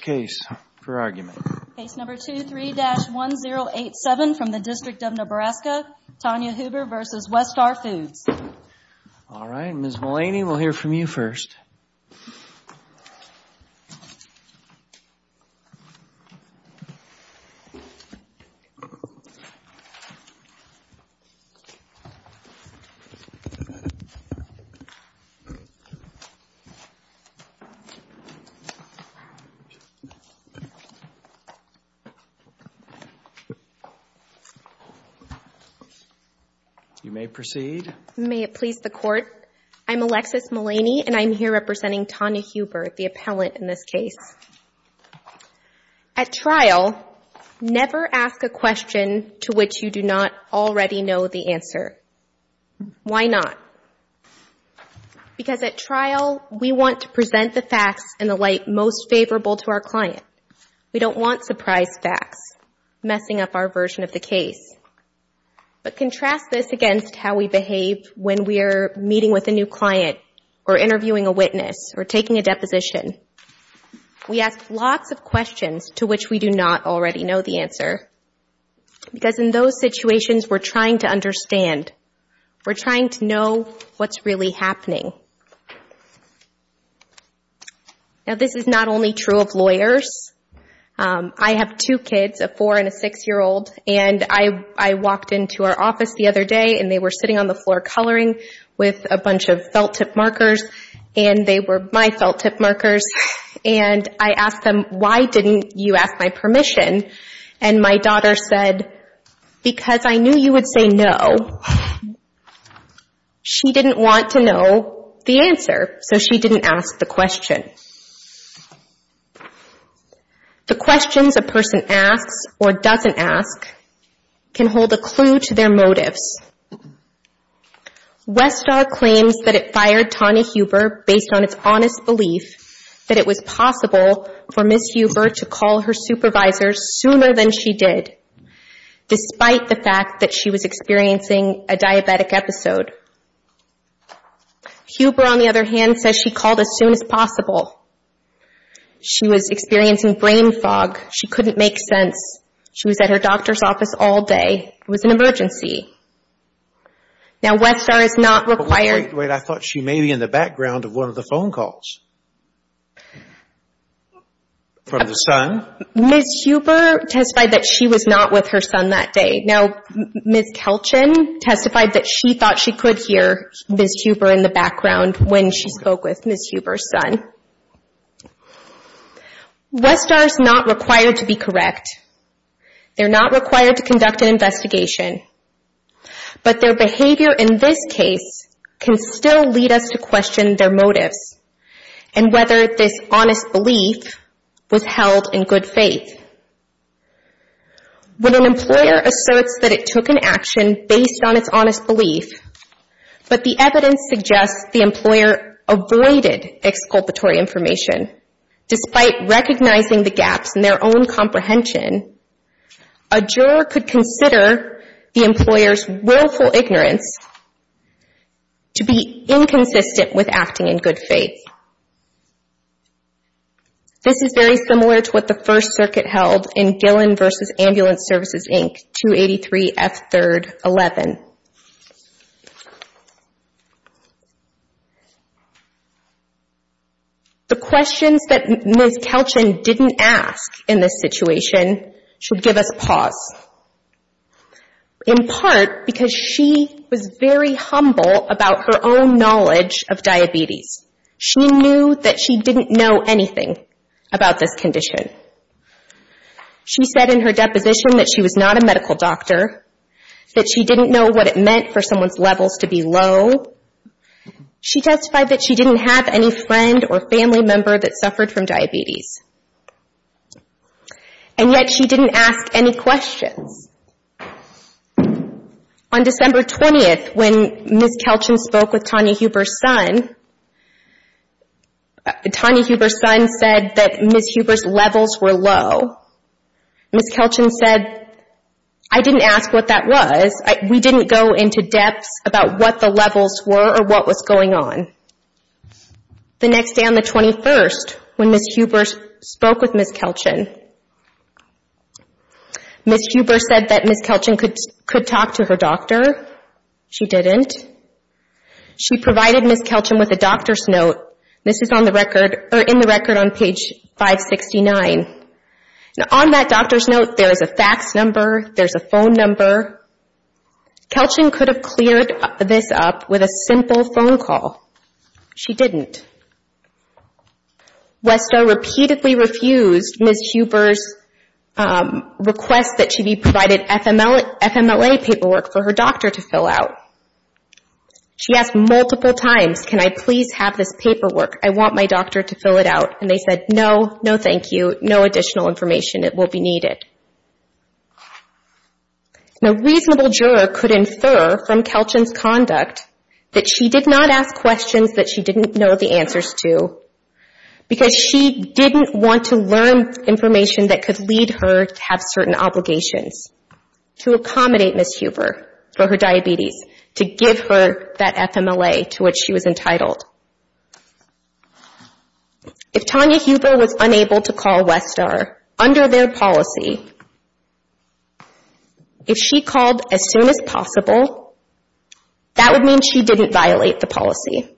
Case No. 23-1087 from the District of Nebraska, Tonya Huber v. Westar Foods, Inc. I'm Alexis Mullaney, and I'm here representing Tonya Huber, the appellant in this case. At trial, never ask a question to which you do not already know the answer. Why not? Because at trial, we want to present the facts in the light most favorable to our client. We don't want surprise facts messing up our version of the case. But contrast this against how we behave when we are meeting with a new client or interviewing a witness or taking a deposition. We ask lots of questions to which we do not already know the answer. Because in those situations, we're trying to understand. We're trying to know what's really happening. Now, this is not only true of lawyers. I have two kids, a four- and a six-year-old, and I walked into our office the other day, and they were sitting on the floor coloring with a bunch of felt-tip markers, and they were my felt-tip markers. And I asked them, why didn't you ask my permission? And my daughter said, because I knew you would say no. She didn't want to know the answer, so she didn't ask the question. The questions a person asks or doesn't ask can hold a clue to their motives. Westar claims that it fired Tawny Huber based on its honest belief that it was possible for Ms. Huber to call her supervisor sooner than she did, despite the fact that she was experiencing a diabetic episode. Huber, on the other hand, says she called as soon as possible. She was experiencing brain fog. She couldn't make sense. She was at her doctor's office all day. It was an emergency. Now, Westar is not required... Wait, wait. I thought she may be in the background of one of the phone calls from the son. Ms. Huber testified that she was not with her son that day. Now, Ms. Kelchin testified that she thought she could hear Ms. Huber in the background when she spoke with Ms. Huber's son. Westar is not required to be correct. They're not required to conduct an investigation. But their behavior in this case can still lead us to question their motives and whether this honest belief was held in good faith. When an employer asserts that it took an action based on its honest belief, but the evidence suggests the employer avoided exculpatory information, despite recognizing the gaps in their own comprehension, a juror could consider the employer's willful ignorance to be inconsistent with acting in good faith. This is very similar to what the First Circuit held in Gillen v. Ambulance Services, Inc., 283 F. 3rd. 11. The questions that Ms. Kelchin didn't ask in this situation should give us pause, in part because she was very humble about her own knowledge of diabetes. She knew that she didn't know anything about this condition. She said in her deposition that she was not a medical doctor, that she didn't know what it meant for someone's levels to be low. She testified that she didn't have any friend or family member that suffered from diabetes. And yet she didn't ask any questions. On December 20th, when Ms. Kelchin spoke with Tanya Huber's son, Tanya Huber's son said that Ms. Huber's levels were low. Ms. Kelchin said, I didn't ask what that was. We didn't go into depth about what the levels were or what was going on. The next day on the 21st, when Ms. Huber spoke with Ms. Kelchin, Ms. Huber said that Ms. Kelchin could talk to her doctor. She didn't. She provided Ms. Kelchin with a doctor's note. This is in the record on page 569. On that doctor's note, there is a fax number. There is a phone number. Kelchin could have cleared this up with a simple phone call. She didn't. Westo repeatedly refused Ms. Huber's request that she be provided FMLA paperwork for her doctor to fill out. She asked multiple times, can I please have this paperwork? I want my doctor to fill it out. And they said, no, no thank you. No additional information will be needed. A reasonable juror could infer from Kelchin's conduct that she did not ask questions that she didn't know the answers to because she didn't want to learn information that could lead her to have certain obligations to accommodate Ms. Huber for her diabetes, to give her that FMLA to which she was entitled. If Tanya Huber was unable to call Westar under their policy, if she called as soon as possible, that would mean she didn't violate the policy.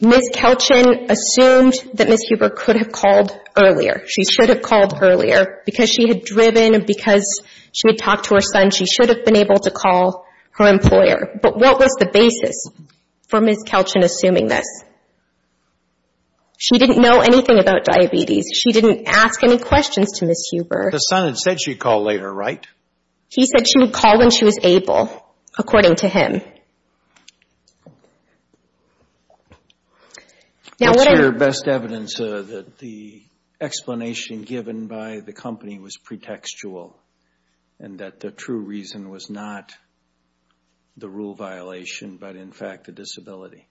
Ms. Kelchin assumed that Ms. Huber could have called earlier. She should have called earlier because she had driven, because she had talked to her son. She should have been able to call her employer. But what was the basis for Ms. Kelchin assuming this? She didn't know anything about diabetes. She didn't ask any questions to Ms. Huber. The son had said she'd call later, right? He said she would call when she was able. According to him. What's your best evidence that the explanation given by the company was pretextual and that the true reason was not the rule violation but, in fact, the disability?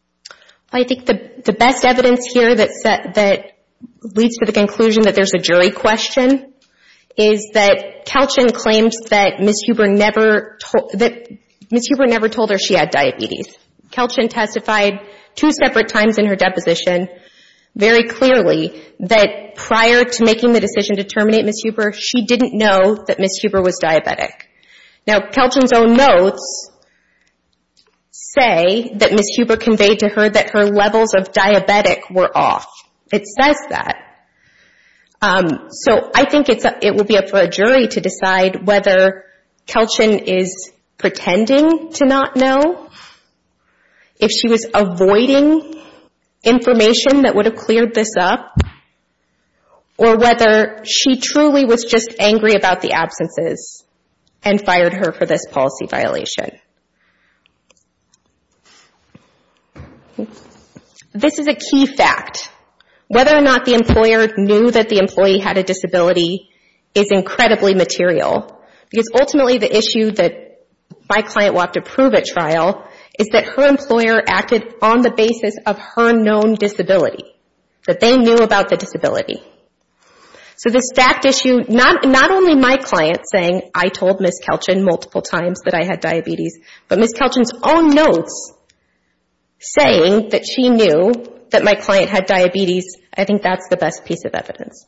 I think the best evidence here that leads to the conclusion that there's a jury question is that Kelchin claims that Ms. Huber never told her she had diabetes. Kelchin testified two separate times in her deposition, very clearly, that prior to making the decision to terminate Ms. Huber, she didn't know that Ms. Huber was diabetic. Now, Kelchin's own notes say that Ms. Huber conveyed to her that her levels of diabetic were off. It says that. So I think it will be up for a jury to decide whether Kelchin is pretending to not know, if she was avoiding information that would have cleared this up, or whether she truly was just angry about the absences and fired her for this policy violation. This is a key fact. Whether or not the employer knew that the employee had a disability is incredibly material. Because, ultimately, the issue that my client wanted to prove at trial is that her employer acted on the basis of her known disability. That they knew about the disability. So the stacked issue, not only my client saying, I told Ms. Kelchin multiple times that I had diabetes, but Ms. Kelchin's own notes saying that she knew that my client had diabetes, I think that's the best piece of evidence.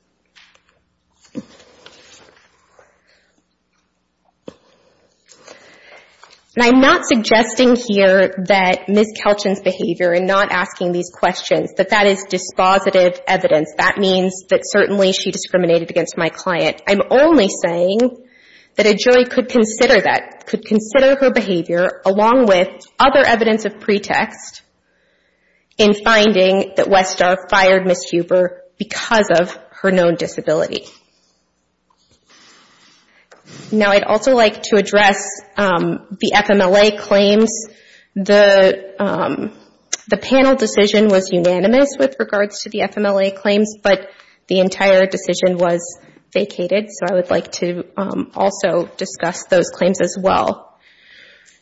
I'm not suggesting here that Ms. Kelchin's behavior, and not asking these questions, that that is dispositive evidence. That means that certainly she discriminated against my client. I'm only saying that a jury could consider that, could consider her behavior, along with other evidence of pretext, in finding that Westar fired Ms. Huber because of her known disability. Now, I'd also like to address the FMLA claims. The panel decision was unanimous with regards to the FMLA claims, but the entire decision was vacated. So I would like to also discuss those claims as well.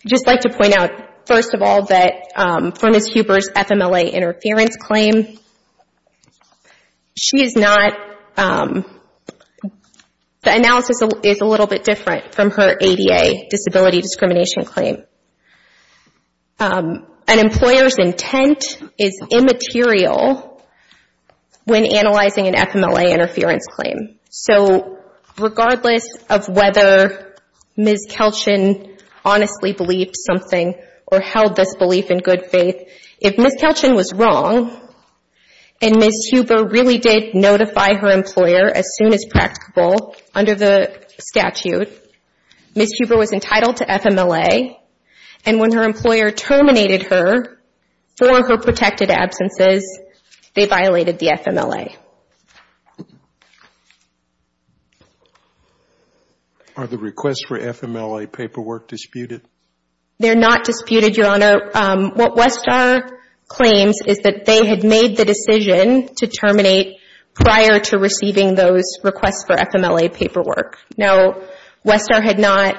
I'd just like to point out, first of all, that for Ms. Huber's FMLA interference claim, she is not, the analysis is a little bit different from her ADA disability discrimination claim. An employer's intent is immaterial when analyzing an FMLA interference claim. So regardless of whether Ms. Kelchin honestly believed something, or held this belief in good faith, if Ms. Kelchin was wrong and Ms. Huber really did notify her employer as soon as practicable under the statute, Ms. Huber was entitled to FMLA, and when her employer terminated her for her protected absences, they violated the FMLA. Are the requests for FMLA paperwork disputed? They're not disputed, Your Honor. What Westar claims is that they had made the decision to terminate prior to receiving those requests for FMLA paperwork. Now, Westar had not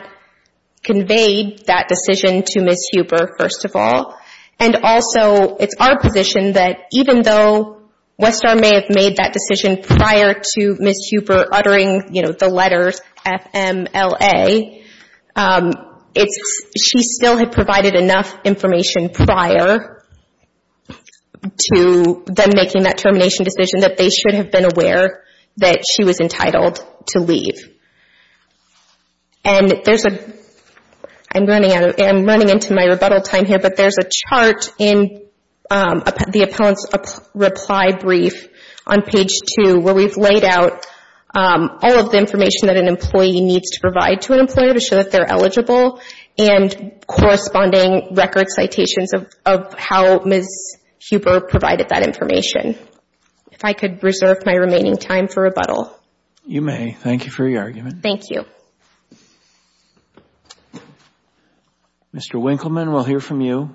conveyed that decision to Ms. Huber, first of all, and also it's our position that even though Westar may have made that decision prior to Ms. Huber uttering the letters FMLA, she still had provided enough information prior to them making that termination decision that they should have been aware that she was entitled to leave. And there's a, I'm running into my rebuttal time here, but there's a chart in the appellant's reply brief on page 2 where we've laid out all of the information that an employee needs to provide to an employer to show that they're eligible, and corresponding record citations of how Ms. Huber provided that information. If I could reserve my remaining time for rebuttal. You may. Thank you for your argument. Thank you. Mr. Winkleman, we'll hear from you.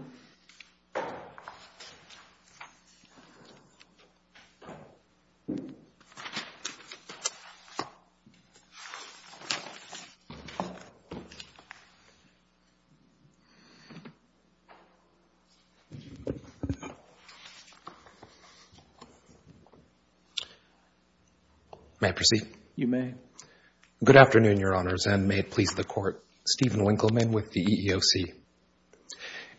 May I proceed? You may. Good afternoon, Your Honors, and may it please the Court. Stephen Winkleman with the EEOC.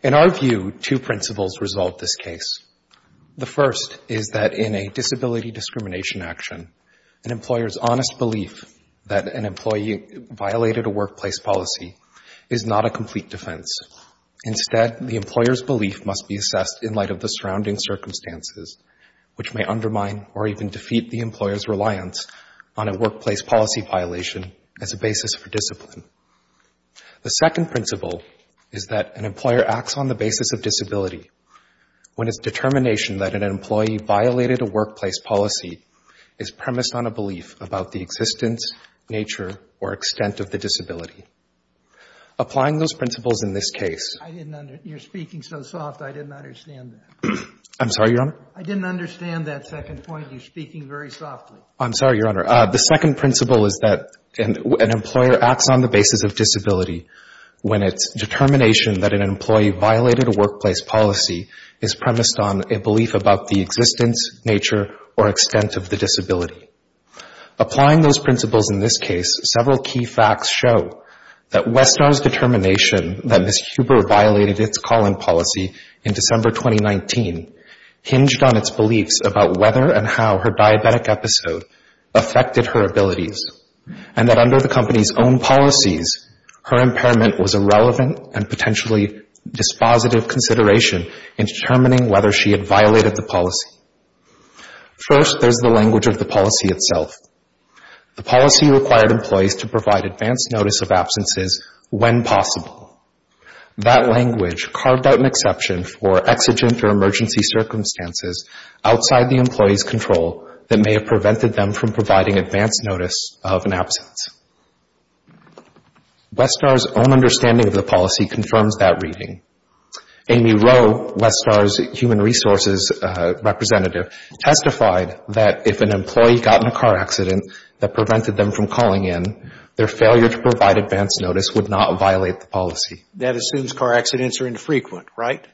In our view, two principles resolve this case. The first is that in a disability discrimination action, an employer's honest belief that an employee violated a workplace policy is not a complete defense. Instead, the employer's belief must be assessed in light of the surrounding circumstances, which may undermine or even defeat the employer's reliance on a workplace policy violation as a basis for discipline. The second principle is that an employer acts on the basis of disability when its determination that an employee violated a workplace policy is premised on a belief about the existence, nature, or extent of the disability. Applying those principles in this case. I didn't understand. You're speaking so soft, I didn't understand that. I'm sorry, Your Honor? I didn't understand that second point. You're speaking very softly. I'm sorry, Your Honor. The second principle is that an employer acts on the basis of disability when its determination that an employee violated a workplace policy is premised on a belief about the existence, nature, or extent of the disability. Applying those principles in this case, several key facts show that Westar's determination that Ms. Huber violated its calling policy in December 2019 hinged on its beliefs about whether and how her diabetic episode affected her abilities, and that under the company's own policies, her impairment was a relevant and potentially dispositive consideration in determining whether she had violated the policy. First, there's the language of the policy itself. The policy required employees to provide advance notice of absences when possible. That language carved out an exception for exigent or emergency circumstances outside the employee's control that may have prevented them from providing advance notice of an absence. Westar's own understanding of the policy confirms that reading. Amy Rowe, Westar's human resources representative, testified that if an employee got in a car accident that prevented them from calling in, their failure to provide advance notice would not violate the policy. That assumes car accidents are infrequent, right?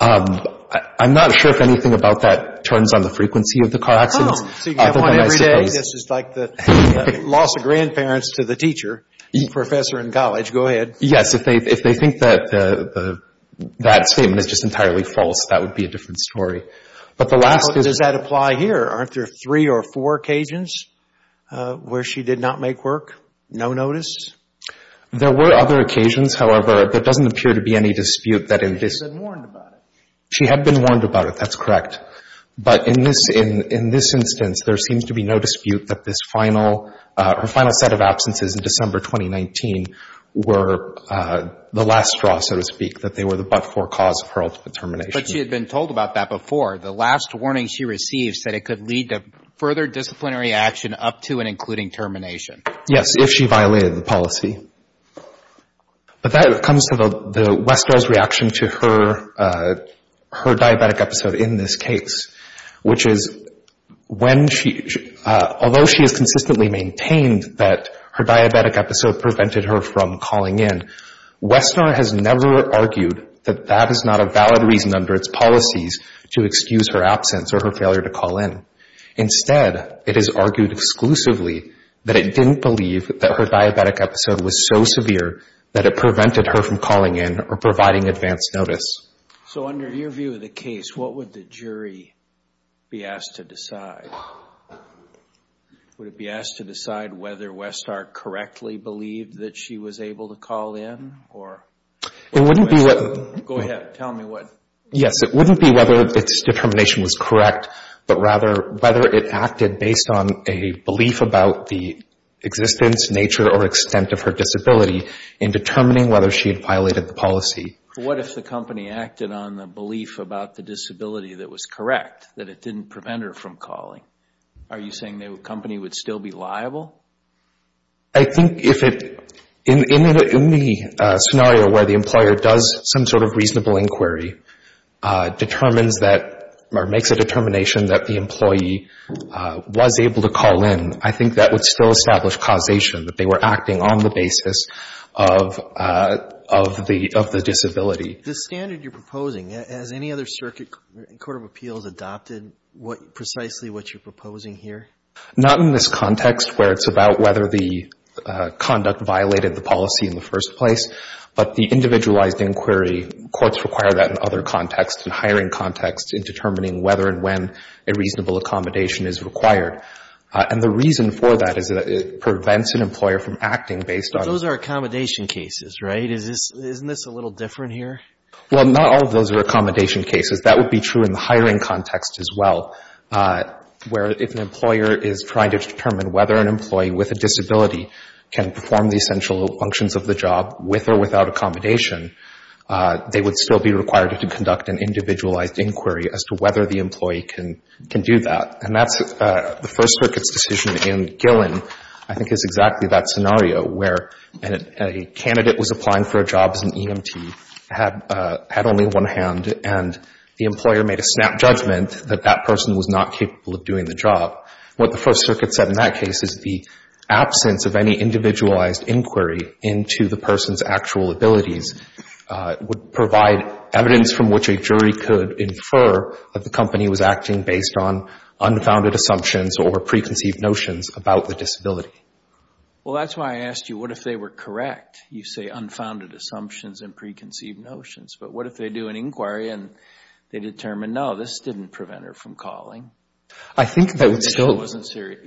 I'm not sure if anything about that turns on the frequency of the car accidents. So you have one every day? This is like the loss of grandparents to the teacher, professor in college. Go ahead. Yes. If they think that that statement is just entirely false, that would be a different story. But the last is... How does that apply here? Aren't there three or four occasions where she did not make work? No notice? There were other occasions. However, there doesn't appear to be any dispute that in this... She had been warned about it. She had been warned about it. That's correct. But in this instance, there seems to be no dispute that this final, her final set of absences in December 2019 were the last straw, so to speak, that they were the but-for cause of her ultimate termination. But she had been told about that before. The last warning she received said it could lead to further disciplinary action up to and including termination. Yes, if she violated the policy. But that comes to the... Westerner's reaction to her diabetic episode in this case, which is when she... Although she has consistently maintained that her diabetic episode prevented her from calling in, Westerner has never argued that that is not a valid reason under its policies to excuse her absence or her failure to call in. Instead, it is argued exclusively that it didn't believe that her diabetic episode was so severe that it prevented her from calling in or providing advance notice. So under your view of the case, what would the jury be asked to decide? Would it be asked to decide whether Westhart correctly believed that she was able to call in or... It wouldn't be... Go ahead. Tell me what. Yes, it wouldn't be whether its determination was correct, but rather whether it acted based on a belief about the existence, nature, or extent of her disability in determining whether she had violated the policy. What if the company acted on the belief about the disability that was correct, that it didn't prevent her from calling? Are you saying the company would still be liable? I think if it... In the scenario where the employer does some sort of reasonable inquiry, determines that or makes a determination that the employee was able to call in, I think that would still establish causation that they were acting on the basis of the disability. The standard you're proposing, has any other circuit court of appeals adopted precisely what you're proposing here? Not in this context where it's about whether the conduct violated the policy in the first place, but the individualized inquiry, courts require that in other contexts, in hiring contexts, in determining whether and when a reasonable accommodation is required. And the reason for that is that it prevents an employer from acting based on... Well, not all of those are accommodation cases. That would be true in the hiring context as well, where if an employer is trying to determine whether an employee with a disability can perform the essential functions of the job with or without accommodation, they would still be required to conduct an individualized inquiry as to whether the employee can do that. And that's the First Circuit's decision in Gillen, I think is exactly that scenario, where a candidate was applying for a job as an EMT, had only one hand, and the employer made a snap judgment that that person was not capable of doing the job. What the First Circuit said in that case is the absence of any individualized inquiry into the person's actual abilities would provide evidence from which a jury could infer that the company was acting based on unfounded assumptions or preconceived notions about the disability. Well, that's why I asked you, what if they were correct? You say unfounded assumptions and preconceived notions. But what if they do an inquiry and they determine, no, this didn't prevent her from calling? I think that would still...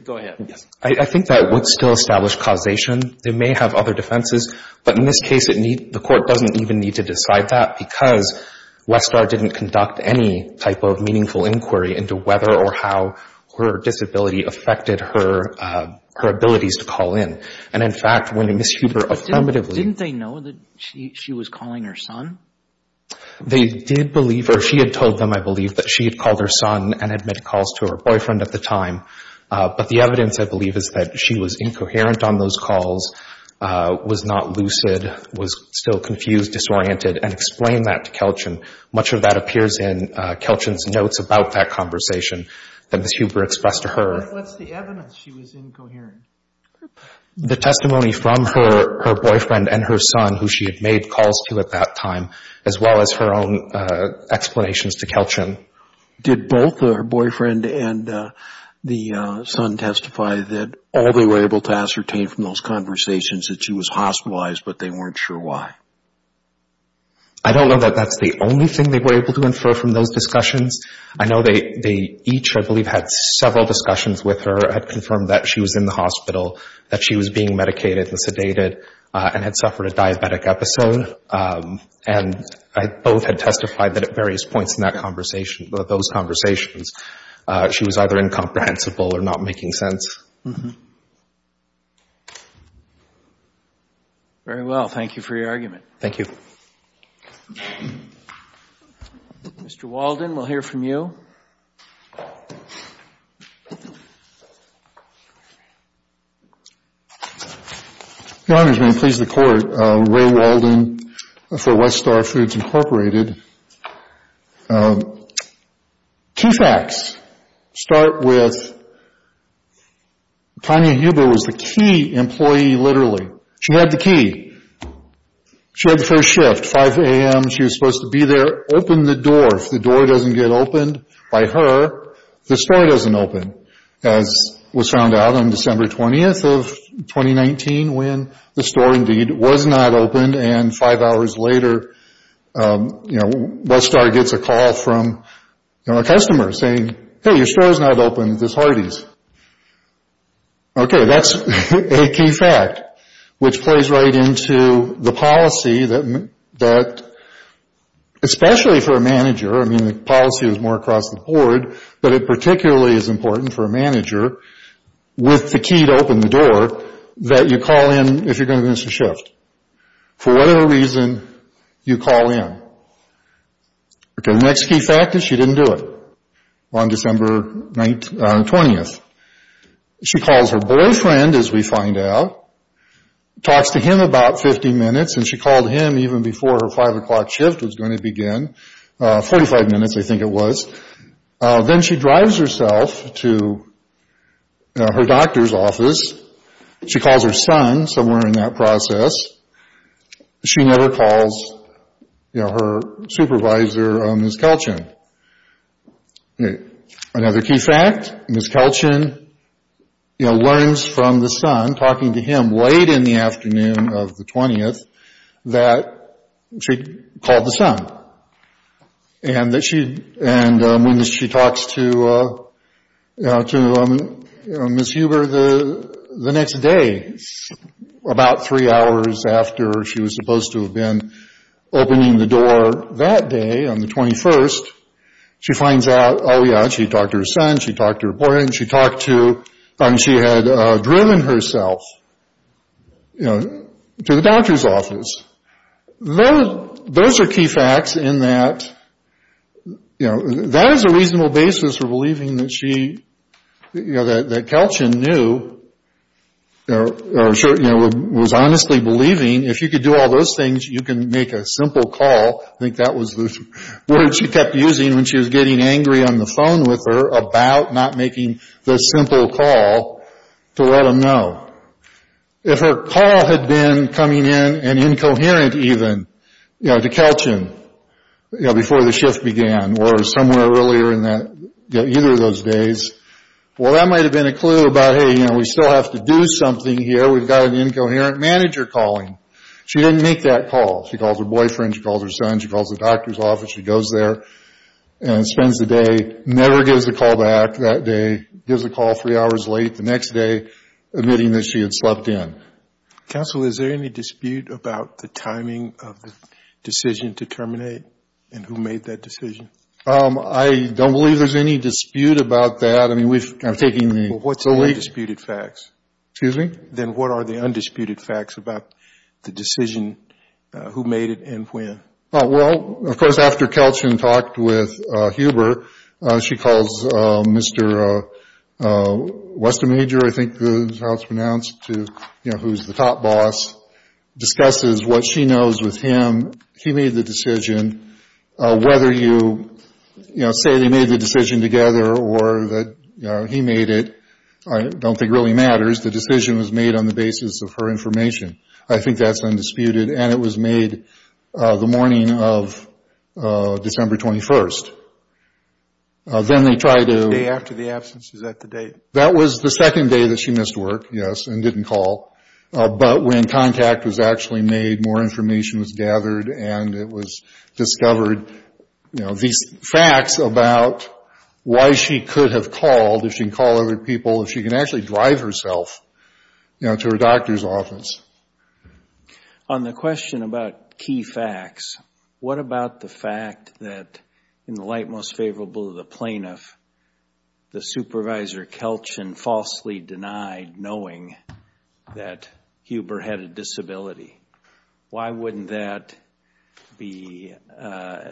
Go ahead. I think that would still establish causation. They may have other defenses. But in this case, the court doesn't even need to decide that because Westar didn't conduct any type of meaningful inquiry into whether or how her disability affected her abilities to call in. And, in fact, when Ms. Huber affirmatively... But didn't they know that she was calling her son? They did believe, or she had told them, I believe, that she had called her son and had made calls to her boyfriend at the time. But the evidence, I believe, is that she was incoherent on those calls, was not lucid, was still confused, disoriented, and explained that to Kelch. And much of that appears in Kelch's notes about that conversation that Ms. Huber expressed to her. What's the evidence she was incoherent? The testimony from her boyfriend and her son, who she had made calls to at that time, as well as her own explanations to Kelch. Did both her boyfriend and the son testify that all they were able to ascertain from those conversations that she was hospitalized, but they weren't sure why? I don't know that that's the only thing they were able to infer from those discussions. I know they each, I believe, had several discussions with her, had confirmed that she was in the hospital, that she was being medicated and sedated, and had suffered a diabetic episode. And both had testified that at various points in that conversation, those conversations, she was either incomprehensible or not making sense. Very well. Thank you for your argument. Thank you. Mr. Walden, we'll hear from you. Your Honors, may it please the Court, Ray Walden for Westar Foods, Incorporated. Two facts. To start with, Tanya Huber was the key employee, literally. She had the key. She had the first shift, 5 a.m. She was supposed to be there, open the door. If the door doesn't get opened by her, the store doesn't open, as was found out on December 20th of 2019, when the store, indeed, was not opened. And five hours later, Westar gets a call from a customer saying, hey, your store is not open. This is Hardee's. Okay, that's a key fact, which plays right into the policy that, especially for a manager, I mean, the policy was more across the board, but it particularly is important for a manager with the key to open the door, that you call in if you're going to miss a shift. For whatever reason, you call in. Okay, the next key fact is she didn't do it on December 20th. She calls her boyfriend, as we find out, talks to him about 50 minutes, and she called him even before her 5 o'clock shift was going to begin, 45 minutes, I think it was. Then she drives herself to her doctor's office. She calls her son somewhere in that process. She never calls her supervisor, Ms. Kelchin. Another key fact, Ms. Kelchin learns from the son, talking to him late in the afternoon of the 20th, that she called the son. When she talks to Ms. Huber the next day, about three hours after she was supposed to have been opening the door that day on the 21st, she finds out, oh, yeah, she talked to her son, she talked to her boyfriend, she talked to, I mean, she had driven herself to the doctor's office. Those are key facts in that, you know, that is a reasonable basis for believing that she, you know, that Kelchin knew, or was honestly believing, if you could do all those things, you can make a simple call. I think that was the word she kept using when she was getting angry on the phone with her about not making the simple call to let him know. If her call had been coming in, and incoherent even, you know, to Kelchin, you know, before the shift began, or somewhere earlier in that, you know, either of those days, well, that might have been a clue about, hey, you know, we still have to do something here, we've got an incoherent manager calling. She didn't make that call. She calls her boyfriend, she calls her son, she calls the doctor's office, she goes there and spends the day, never gives the call back that day, gives the call three hours late the next day, admitting that she had slept in. Counsel, is there any dispute about the timing of the decision to terminate, and who made that decision? I don't believe there's any dispute about that. I mean, we've kind of taken the lead. What's the undisputed facts? Excuse me? Then what are the undisputed facts about the decision, who made it, and when? Well, of course, after Kelchin talked with Huber, she calls Mr. Westermajor, I think that's how it's pronounced, who's the top boss, discusses what she knows with him. He made the decision. Whether you say they made the decision together, or that he made it, I don't think really matters. The decision was made on the basis of her information. I think that's undisputed. And it was made the morning of December 21st. Then they tried to... The day after the absence, is that the date? That was the second day that she missed work, yes, and didn't call. But when contact was actually made, more information was gathered, and it was discovered, you know, these facts about why she could have called, if she can call other people, if she can actually drive herself to her doctor's office. On the question about key facts, what about the fact that, in the light most favorable of the plaintiff, the supervisor Kelchin falsely denied knowing that Huber had a disability? Why wouldn't that be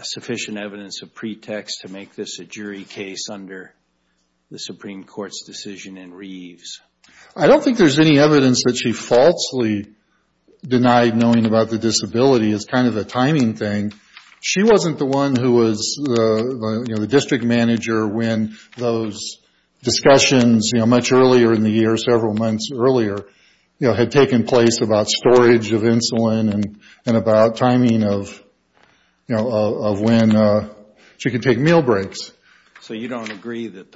sufficient evidence of pretext to make this a jury case under the Supreme Court's decision in Reeves? I don't think there's any evidence that she falsely denied knowing about the disability. It's kind of a timing thing. She wasn't the one who was, you know, the district manager when those discussions, you know, much earlier in the year, several months earlier, you know, had taken place about storage of insulin and about timing of, you know, of when she could take meal breaks. So you don't agree that,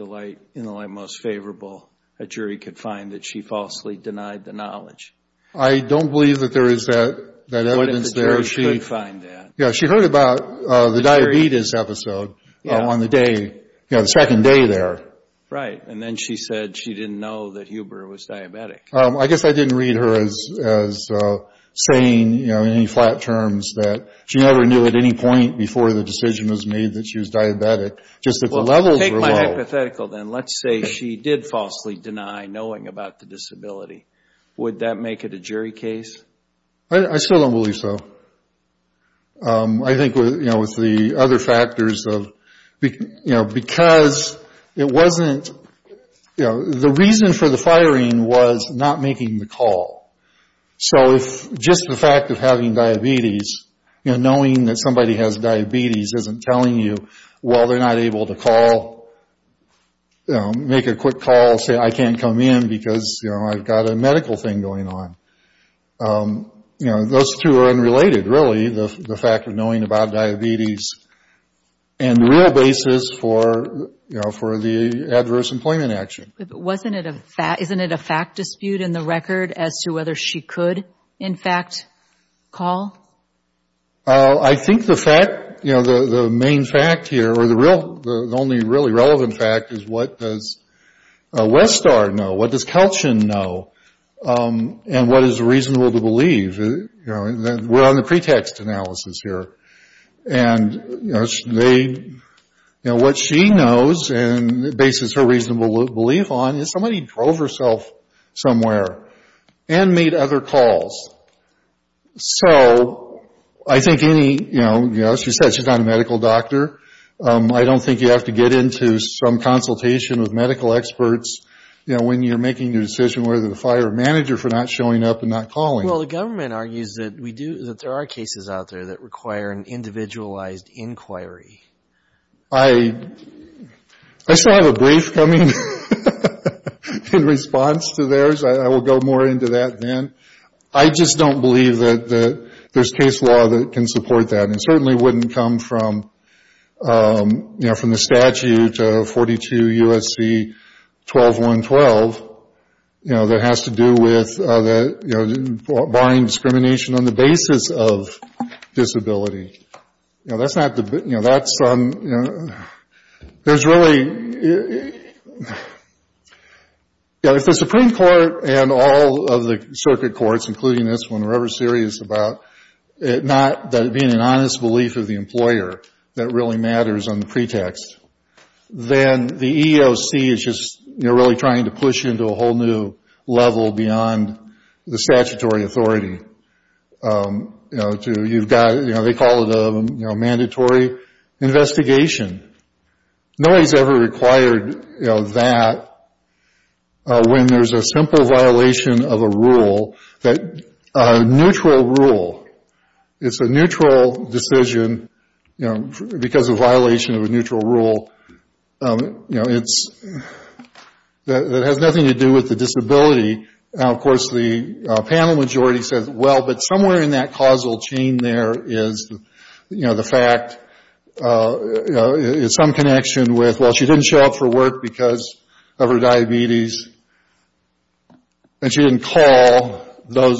in the light most favorable, a jury could find that she falsely denied the knowledge? I don't believe that there is that evidence there. What if the jury could find that? Yeah, she heard about the diabetes episode on the day, you know, the second day there. Right. And then she said she didn't know that Huber was diabetic. I guess I didn't read her as saying, you know, in any flat terms that she never knew at any Take my hypothetical then. Let's say she did falsely deny knowing about the disability. Would that make it a jury case? I still don't believe so. I think with, you know, with the other factors of, you know, because it wasn't, you know, the reason for the firing was not making the call. So if just the fact of having diabetes, you know, knowing that somebody has diabetes isn't telling you, well, they're not able to call, you know, make a quick call, say, I can't come in because, you know, I've got a medical thing going on. You know, those two are unrelated, really, the fact of knowing about diabetes and the real basis for, you know, for the adverse employment action. But wasn't it a fact, isn't it a fact dispute in the record as to whether she could, in fact, call? I think the fact, you know, the main fact here or the real, the only really relevant fact is what does Westar know? What does Kelchin know? And what is reasonable to believe? You know, we're on the pretext analysis here. And, you know, what she knows and bases her reasonable belief on is somebody drove herself somewhere and made other calls. So I think any, you know, she said she's not a medical doctor. I don't think you have to get into some consultation with medical experts, you know, when you're making your decision whether to fire a manager for not showing up and not calling. Well, the government argues that we do, that there are cases out there that require an individualized inquiry. I still have a brief coming in response to theirs. I will go more into that then. I just don't believe that there's case law that can support that. It certainly wouldn't come from, you know, from the statute of 42 U.S.C. 12.1.12, you know, that has to do with, you know, barring discrimination on the basis of disability. You know, that's not the, you know, that's, you know, there's really, you know, if the Supreme Court and all of the circuit courts, including this one, were ever serious about it not being an honest belief of the employer that really matters on the pretext, then the EEOC is just, you know, really trying to push into a whole new level beyond the statutory authority, you know, to you've got, you know, they call it a, you know, mandatory investigation. Nobody's ever required, you know, that when there's a simple violation of a rule, a neutral rule. It's a neutral decision, you know, because of violation of a neutral rule, you know, that has nothing to do with the disability. Now, of course, the panel majority says, well, but somewhere in that causal chain there is, you know, the fact, you know, some connection with, well, she didn't show up for work because of her diabetes, and she didn't call those,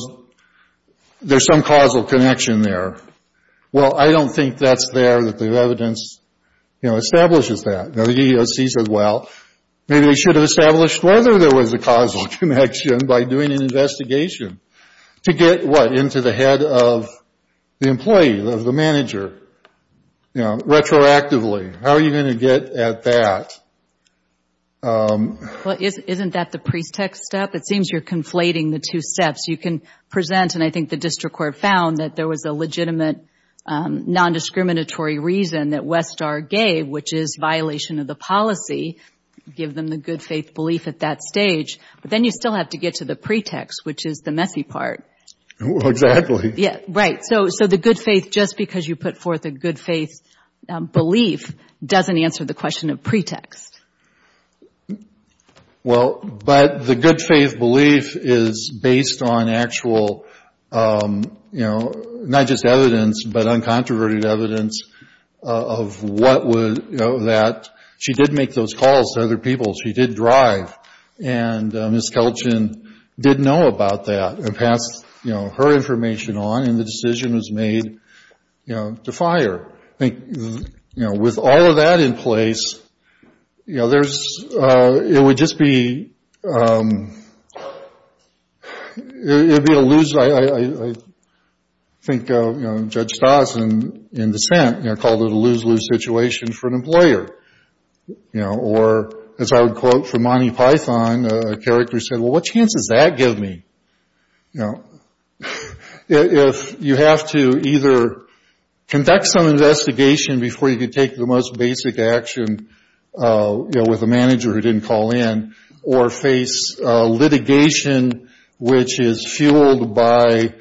there's some causal connection there. Well, I don't think that's there that the evidence, you know, establishes that. Now, the EEOC says, well, maybe they should have established whether there was a causal connection by doing an investigation to get, what, into the head of the employee, of the manager, you know, retroactively. How are you going to get at that? Well, isn't that the pretext step? It seems you're conflating the two steps. You can present, and I think the district court found that there was a legitimate nondiscriminatory reason that Westar gave, which is violation of the policy, give them the good faith belief at that stage, but then you still have to get to the pretext, which is the messy part. Right. So the good faith, just because you put forth a good faith belief doesn't answer the question of pretext. Well, but the good faith belief is based on actual, you know, not just evidence, but uncontroverted evidence of what would, you know, that she did make those calls to other people. She did drive, and Ms. Kelchin did know about that and passed, you know, her information on, and the decision was made, you know, to fire. I think, you know, with all of that in place, you know, there's, it would just be, it would be a lose. I think, you know, Judge Stossin in dissent, you know, called it a lose-lose situation for an employer, you know, or as I would quote from Monty Python, a character said, well, what chance does that give me? You know, if you have to either conduct some investigation before you can take the most basic action, you know, with a manager who didn't call in, or face litigation, which is fueled by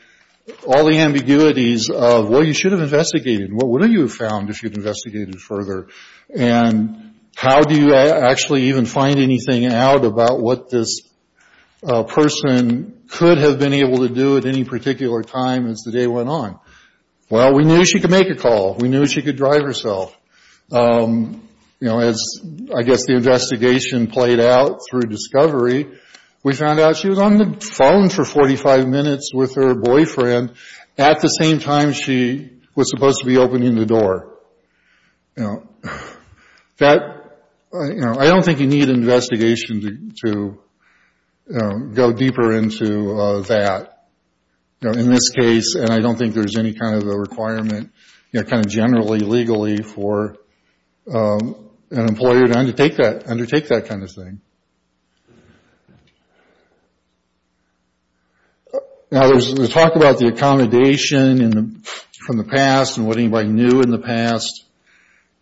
all the ambiguities of what you should have investigated, and what wouldn't you have found if you'd investigated further, and how do you actually even find anything out about what this person could have been able to do at any particular time as the day went on? Well, we knew she could make a call. We knew she could drive herself. You know, as I guess the investigation played out through discovery, we found out she was on the phone for 45 minutes with her boyfriend. At the same time, she was supposed to be opening the door. You know, that, you know, I don't think you need an investigation to go deeper into that. You know, in this case, and I don't think there's any kind of a requirement, you know, kind of generally legally for an employer to undertake that kind of thing. Now, there's talk about the accommodation from the past and what anybody knew in the past.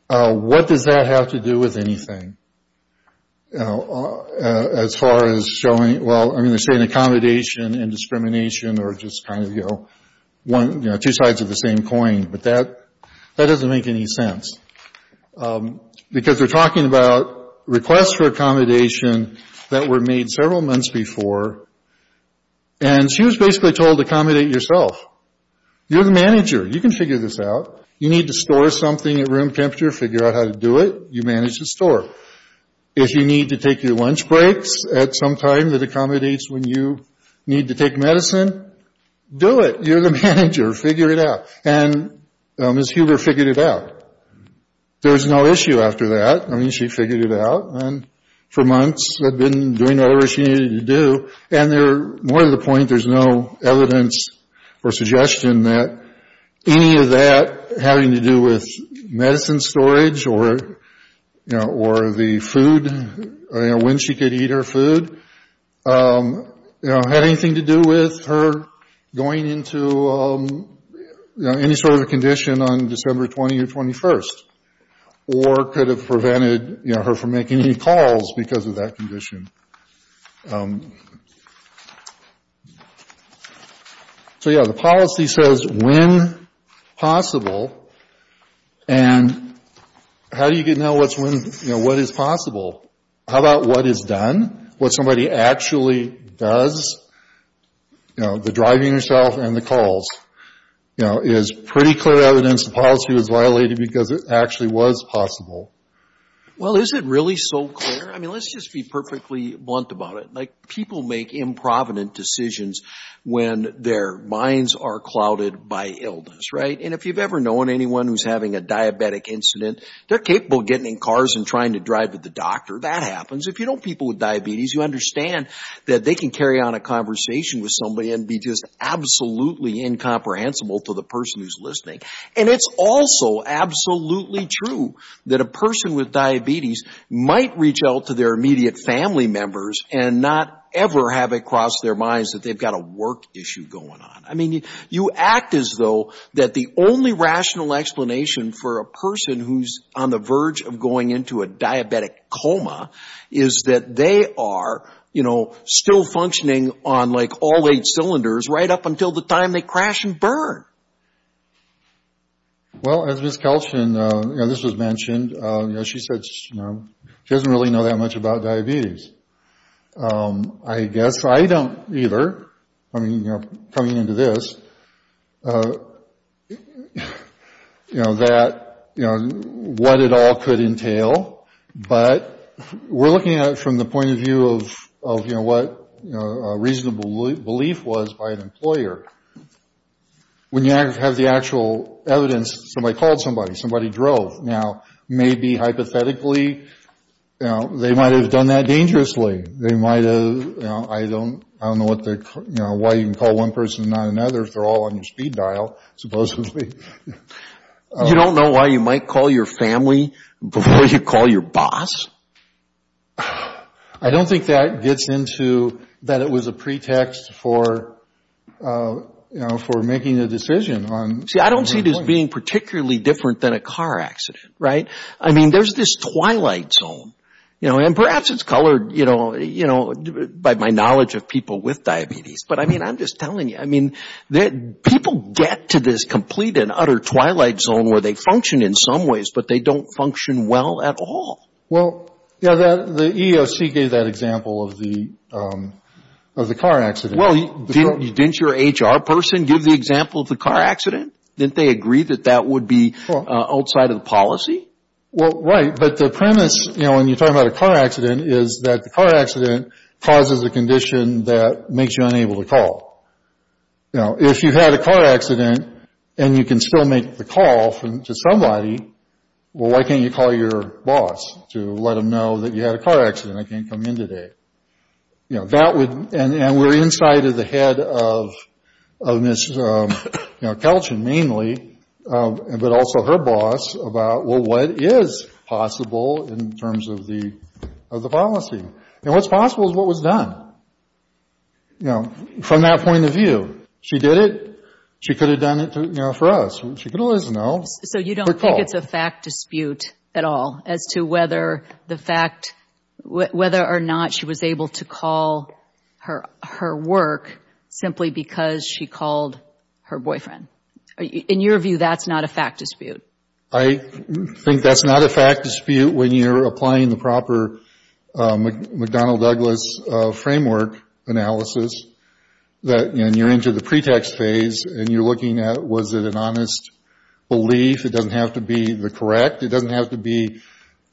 What does that have to do with anything as far as showing, well, I mean, they say an accommodation and discrimination are just kind of, you know, two sides of the same coin. But that doesn't make any sense. Because they're talking about requests for accommodation that were made several months before. And she was basically told, accommodate yourself. You're the manager. You can figure this out. You need to store something at room temperature. Figure out how to do it. You manage the store. If you need to take your lunch breaks at some time that accommodates when you need to take medicine, do it. You're the manager. Figure it out. And Ms. Huber figured it out. There was no issue after that. I mean, she figured it out. And for months had been doing whatever she needed to do. And they're more to the point, there's no evidence or suggestion that any of that having to do with medicine storage or, you know, or the food, you know, when she could eat her food, you know, had anything to do with her going into, you know, any sort of condition on December 20 or 21. Or could have prevented, you know, her from making any calls because of that condition. So, yeah, the policy says when possible. And how do you get now what's when, you know, what is possible? How about what is done, what somebody actually does? You know, the driving yourself and the calls. You know, it is pretty clear evidence the policy was violated because it actually was possible. Well, is it really so clear? I mean, let's just be perfectly blunt about it. Like, people make improvident decisions when their minds are clouded by illness, right? And if you've ever known anyone who's having a diabetic incident, they're capable of getting in cars and trying to drive to the doctor. That happens. If you know people with diabetes, you understand that they can carry on a conversation with somebody and be just absolutely incomprehensible to the person who's listening. And it's also absolutely true that a person with diabetes might reach out to their immediate family members and not ever have it cross their minds that they've got a work issue going on. I mean, you act as though that the only rational explanation for a person who's on the verge of going into a diabetic coma is that they are, you know, still functioning on, like, all eight cylinders right up until the time they crash and burn. Well, as Ms. Kelschen, you know, this was mentioned. You know, she said she doesn't really know that much about diabetes. I guess I don't either. I mean, you know, coming into this, you know, that, you know, what it all could entail. But we're looking at it from the point of view of, you know, what a reasonable belief was by an employer. When you have the actual evidence, somebody called somebody, somebody drove. Now, maybe hypothetically, you know, they might have done that dangerously. They might have, you know, I don't know why you can call one person and not another if they're all on your speed dial, supposedly. You don't know why you might call your family before you call your boss? I don't think that gets into that it was a pretext for, you know, for making a decision on. See, I don't see this being particularly different than a car accident, right? I mean, there's this twilight zone, you know, and perhaps it's colored, you know, by my knowledge of people with diabetes. But, I mean, I'm just telling you, I mean, people get to this complete and utter twilight zone where they function in some ways, but they don't function well at all. Well, yeah, the EEOC gave that example of the car accident. Well, didn't your HR person give the example of the car accident? Didn't they agree that that would be outside of the policy? Well, right, but the premise, you know, when you're talking about a car accident, is that the car accident causes a condition that makes you unable to call. You know, if you had a car accident and you can still make the call to somebody, well, why can't you call your boss to let him know that you had a car accident and can't come in today? You know, that would, and we're inside of the head of Ms. Kelchin mainly, but also her boss, about, well, what is possible in terms of the policy? And what's possible is what was done, you know, from that point of view. She did it. She could have done it, you know, for us. She could have let us know. So you don't think it's a fact dispute at all as to whether the fact, whether or not she was able to call her work simply because she called her boyfriend? In your view, that's not a fact dispute? I think that's not a fact dispute when you're applying the proper McDonnell-Douglas framework analysis that, you know, you're into the pretext phase and you're looking at was it an honest belief. It doesn't have to be the correct. It doesn't have to be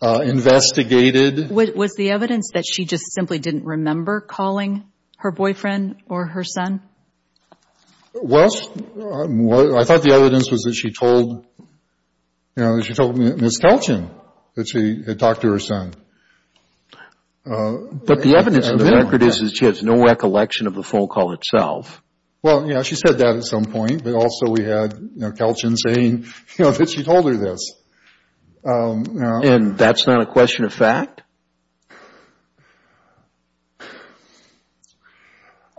investigated. Was the evidence that she just simply didn't remember calling her boyfriend or her son? Well, I thought the evidence was that she told, you know, that she told Ms. Kelchin that she had talked to her son. But the evidence in the record is that she has no recollection of the phone call itself. Well, yeah, she said that at some point, but also we had, you know, Kelchin saying, you know, that she told her this. And that's not a question of fact?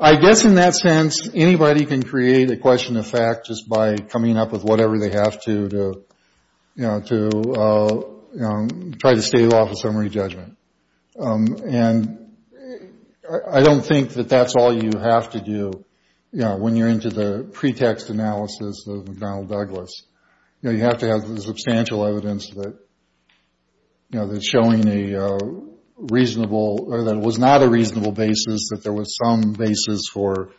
I guess in that sense, anybody can create a question of fact just by coming up with whatever they have to, you know, to try to stave off a summary judgment. And I don't think that that's all you have to do, you know, when you're into the pretext analysis of McDonnell-Douglas. You know, you have to have substantial evidence that, you know, that's showing a reasonable or that was not a reasonable basis, that there was some basis for,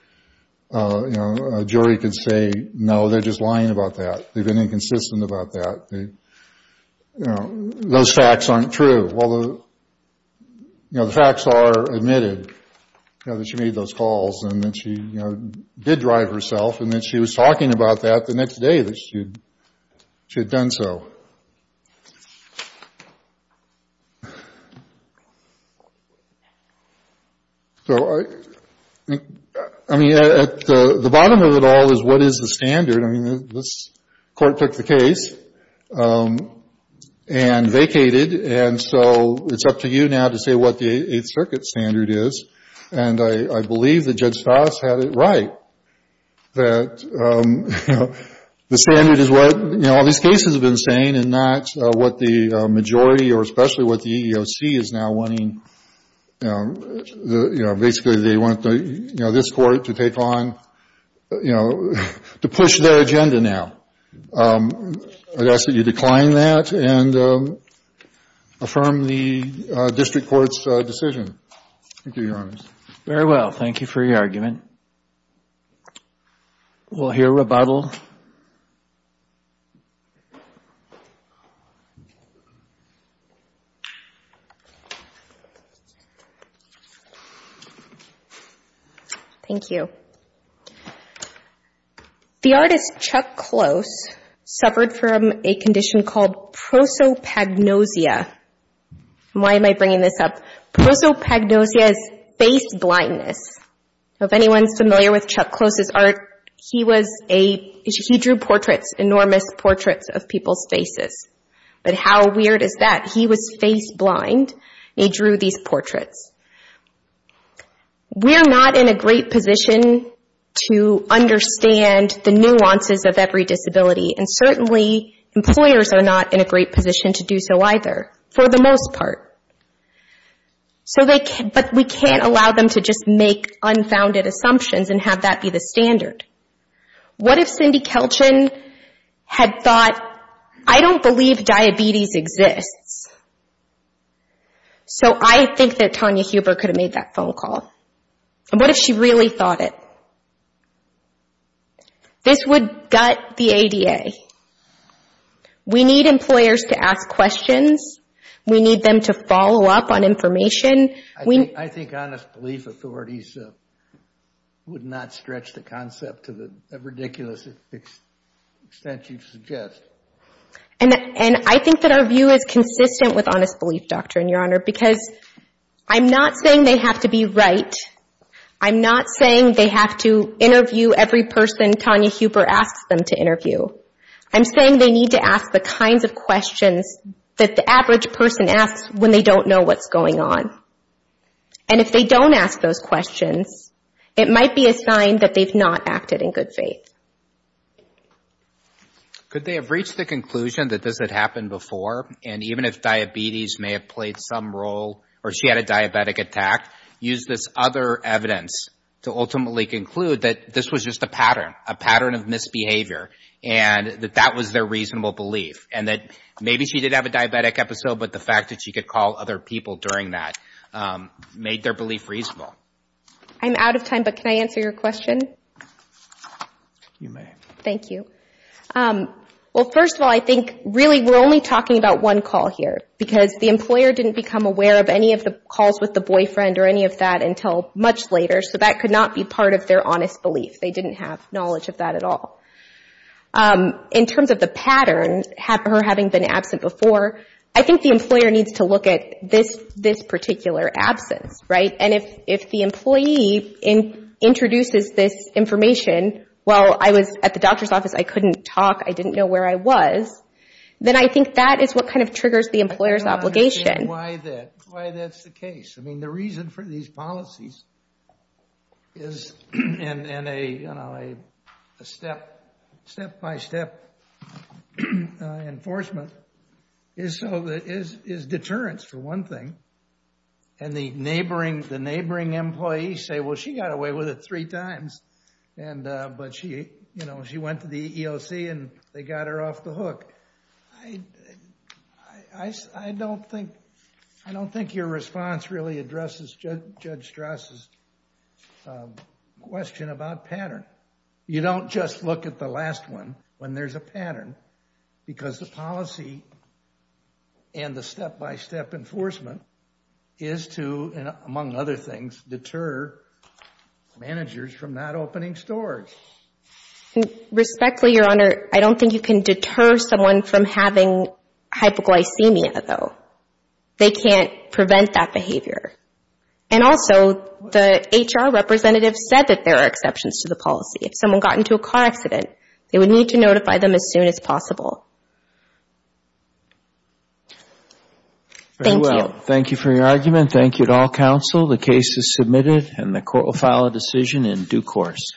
you know, a jury could say, no, they're just lying about that. They've been inconsistent about that. You know, those facts aren't true. Well, you know, the facts are admitted, you know, that she made those calls and that she, you know, did drive herself. And that she was talking about that the next day that she had done so. So I mean, at the bottom of it all is what is the standard? I mean, this Court took the case and vacated. And so it's up to you now to say what the Eighth Circuit standard is. And I believe that Judge Fass had it right that, you know, the standard is what, you know, all these cases have been saying and not what the majority or especially what the EEOC is now wanting. You know, basically they want, you know, this Court to take on, you know, to push their agenda now. I'd ask that you decline that and affirm the district court's decision. Thank you, Your Honor. Very well. Thank you for your argument. We'll hear rebuttal. Thank you. The artist Chuck Close suffered from a condition called prosopagnosia. Why am I bringing this up? Prosopagnosia is face blindness. If anyone's familiar with Chuck Close's art, he was a, he drew portraits, enormous portraits of people's faces. But how weird is that? He was face blind and he drew these portraits. We're not in a great position to understand the nuances of every disability. And certainly employers are not in a great position to do so either, for the most part. So they can't, but we can't allow them to just make unfounded assumptions and have that be the standard. What if Cindy Kelchin had thought, I don't believe diabetes exists. So I think that Tonya Huber could have made that phone call. And what if she really thought it? This would gut the ADA. We need employers to ask questions. We need them to follow up on information. I think honest belief authorities would not stretch the concept to the ridiculous extent you'd suggest. And I think that our view is consistent with honest belief doctrine, Your Honor, because I'm not saying they have to be right. I'm not saying they have to interview every person Tonya Huber asks them to interview. I'm saying they need to ask the kinds of questions that the average person asks when they don't know what's going on. And if they don't ask those questions, it might be a sign that they've not acted in good faith. Could they have reached the conclusion that this had happened before, and even if diabetes may have played some role, or she had a diabetic attack, use this other evidence to ultimately conclude that this was just a pattern, a pattern of misbehavior, and that that was their reasonable belief. And that maybe she did have a diabetic episode, but the fact that she could call other people during that made their belief reasonable. I'm out of time, but can I answer your question? You may. Thank you. Well, first of all, I think really we're only talking about one call here, because the employer didn't become aware of any of the calls with the boyfriend or any of that until much later, so that could not be part of their honest belief. They didn't have knowledge of that at all. In terms of the pattern, her having been absent before, I think the employer needs to look at this particular absence, right? And if the employee introduces this information, well, I was at the doctor's office, I couldn't talk, I didn't know where I was, then I think that is what kind of triggers the employer's obligation. I don't understand why that's the case. I mean, the reason for these policies is, and a step-by-step enforcement, is deterrence, for one thing, and the neighboring, the neighboring employee, say, well, she got away with it three times, but she went to the EEOC and they got her off the hook. I don't think your response really addresses Judge Strass' question about pattern. You don't just look at the last one when there's a pattern, because the policy and the step-by-step enforcement is to, among other things, deterrence. And among other things, deter managers from not opening stores. Respectfully, Your Honor, I don't think you can deter someone from having hypoglycemia, though. They can't prevent that behavior. And also, the HR representative said that there are exceptions to the policy. If someone got into a car accident, they would need to notify them as soon as possible. Very well. Thank you for your argument. Thank you to all counsel. The case is submitted and the court will file a decision in due course.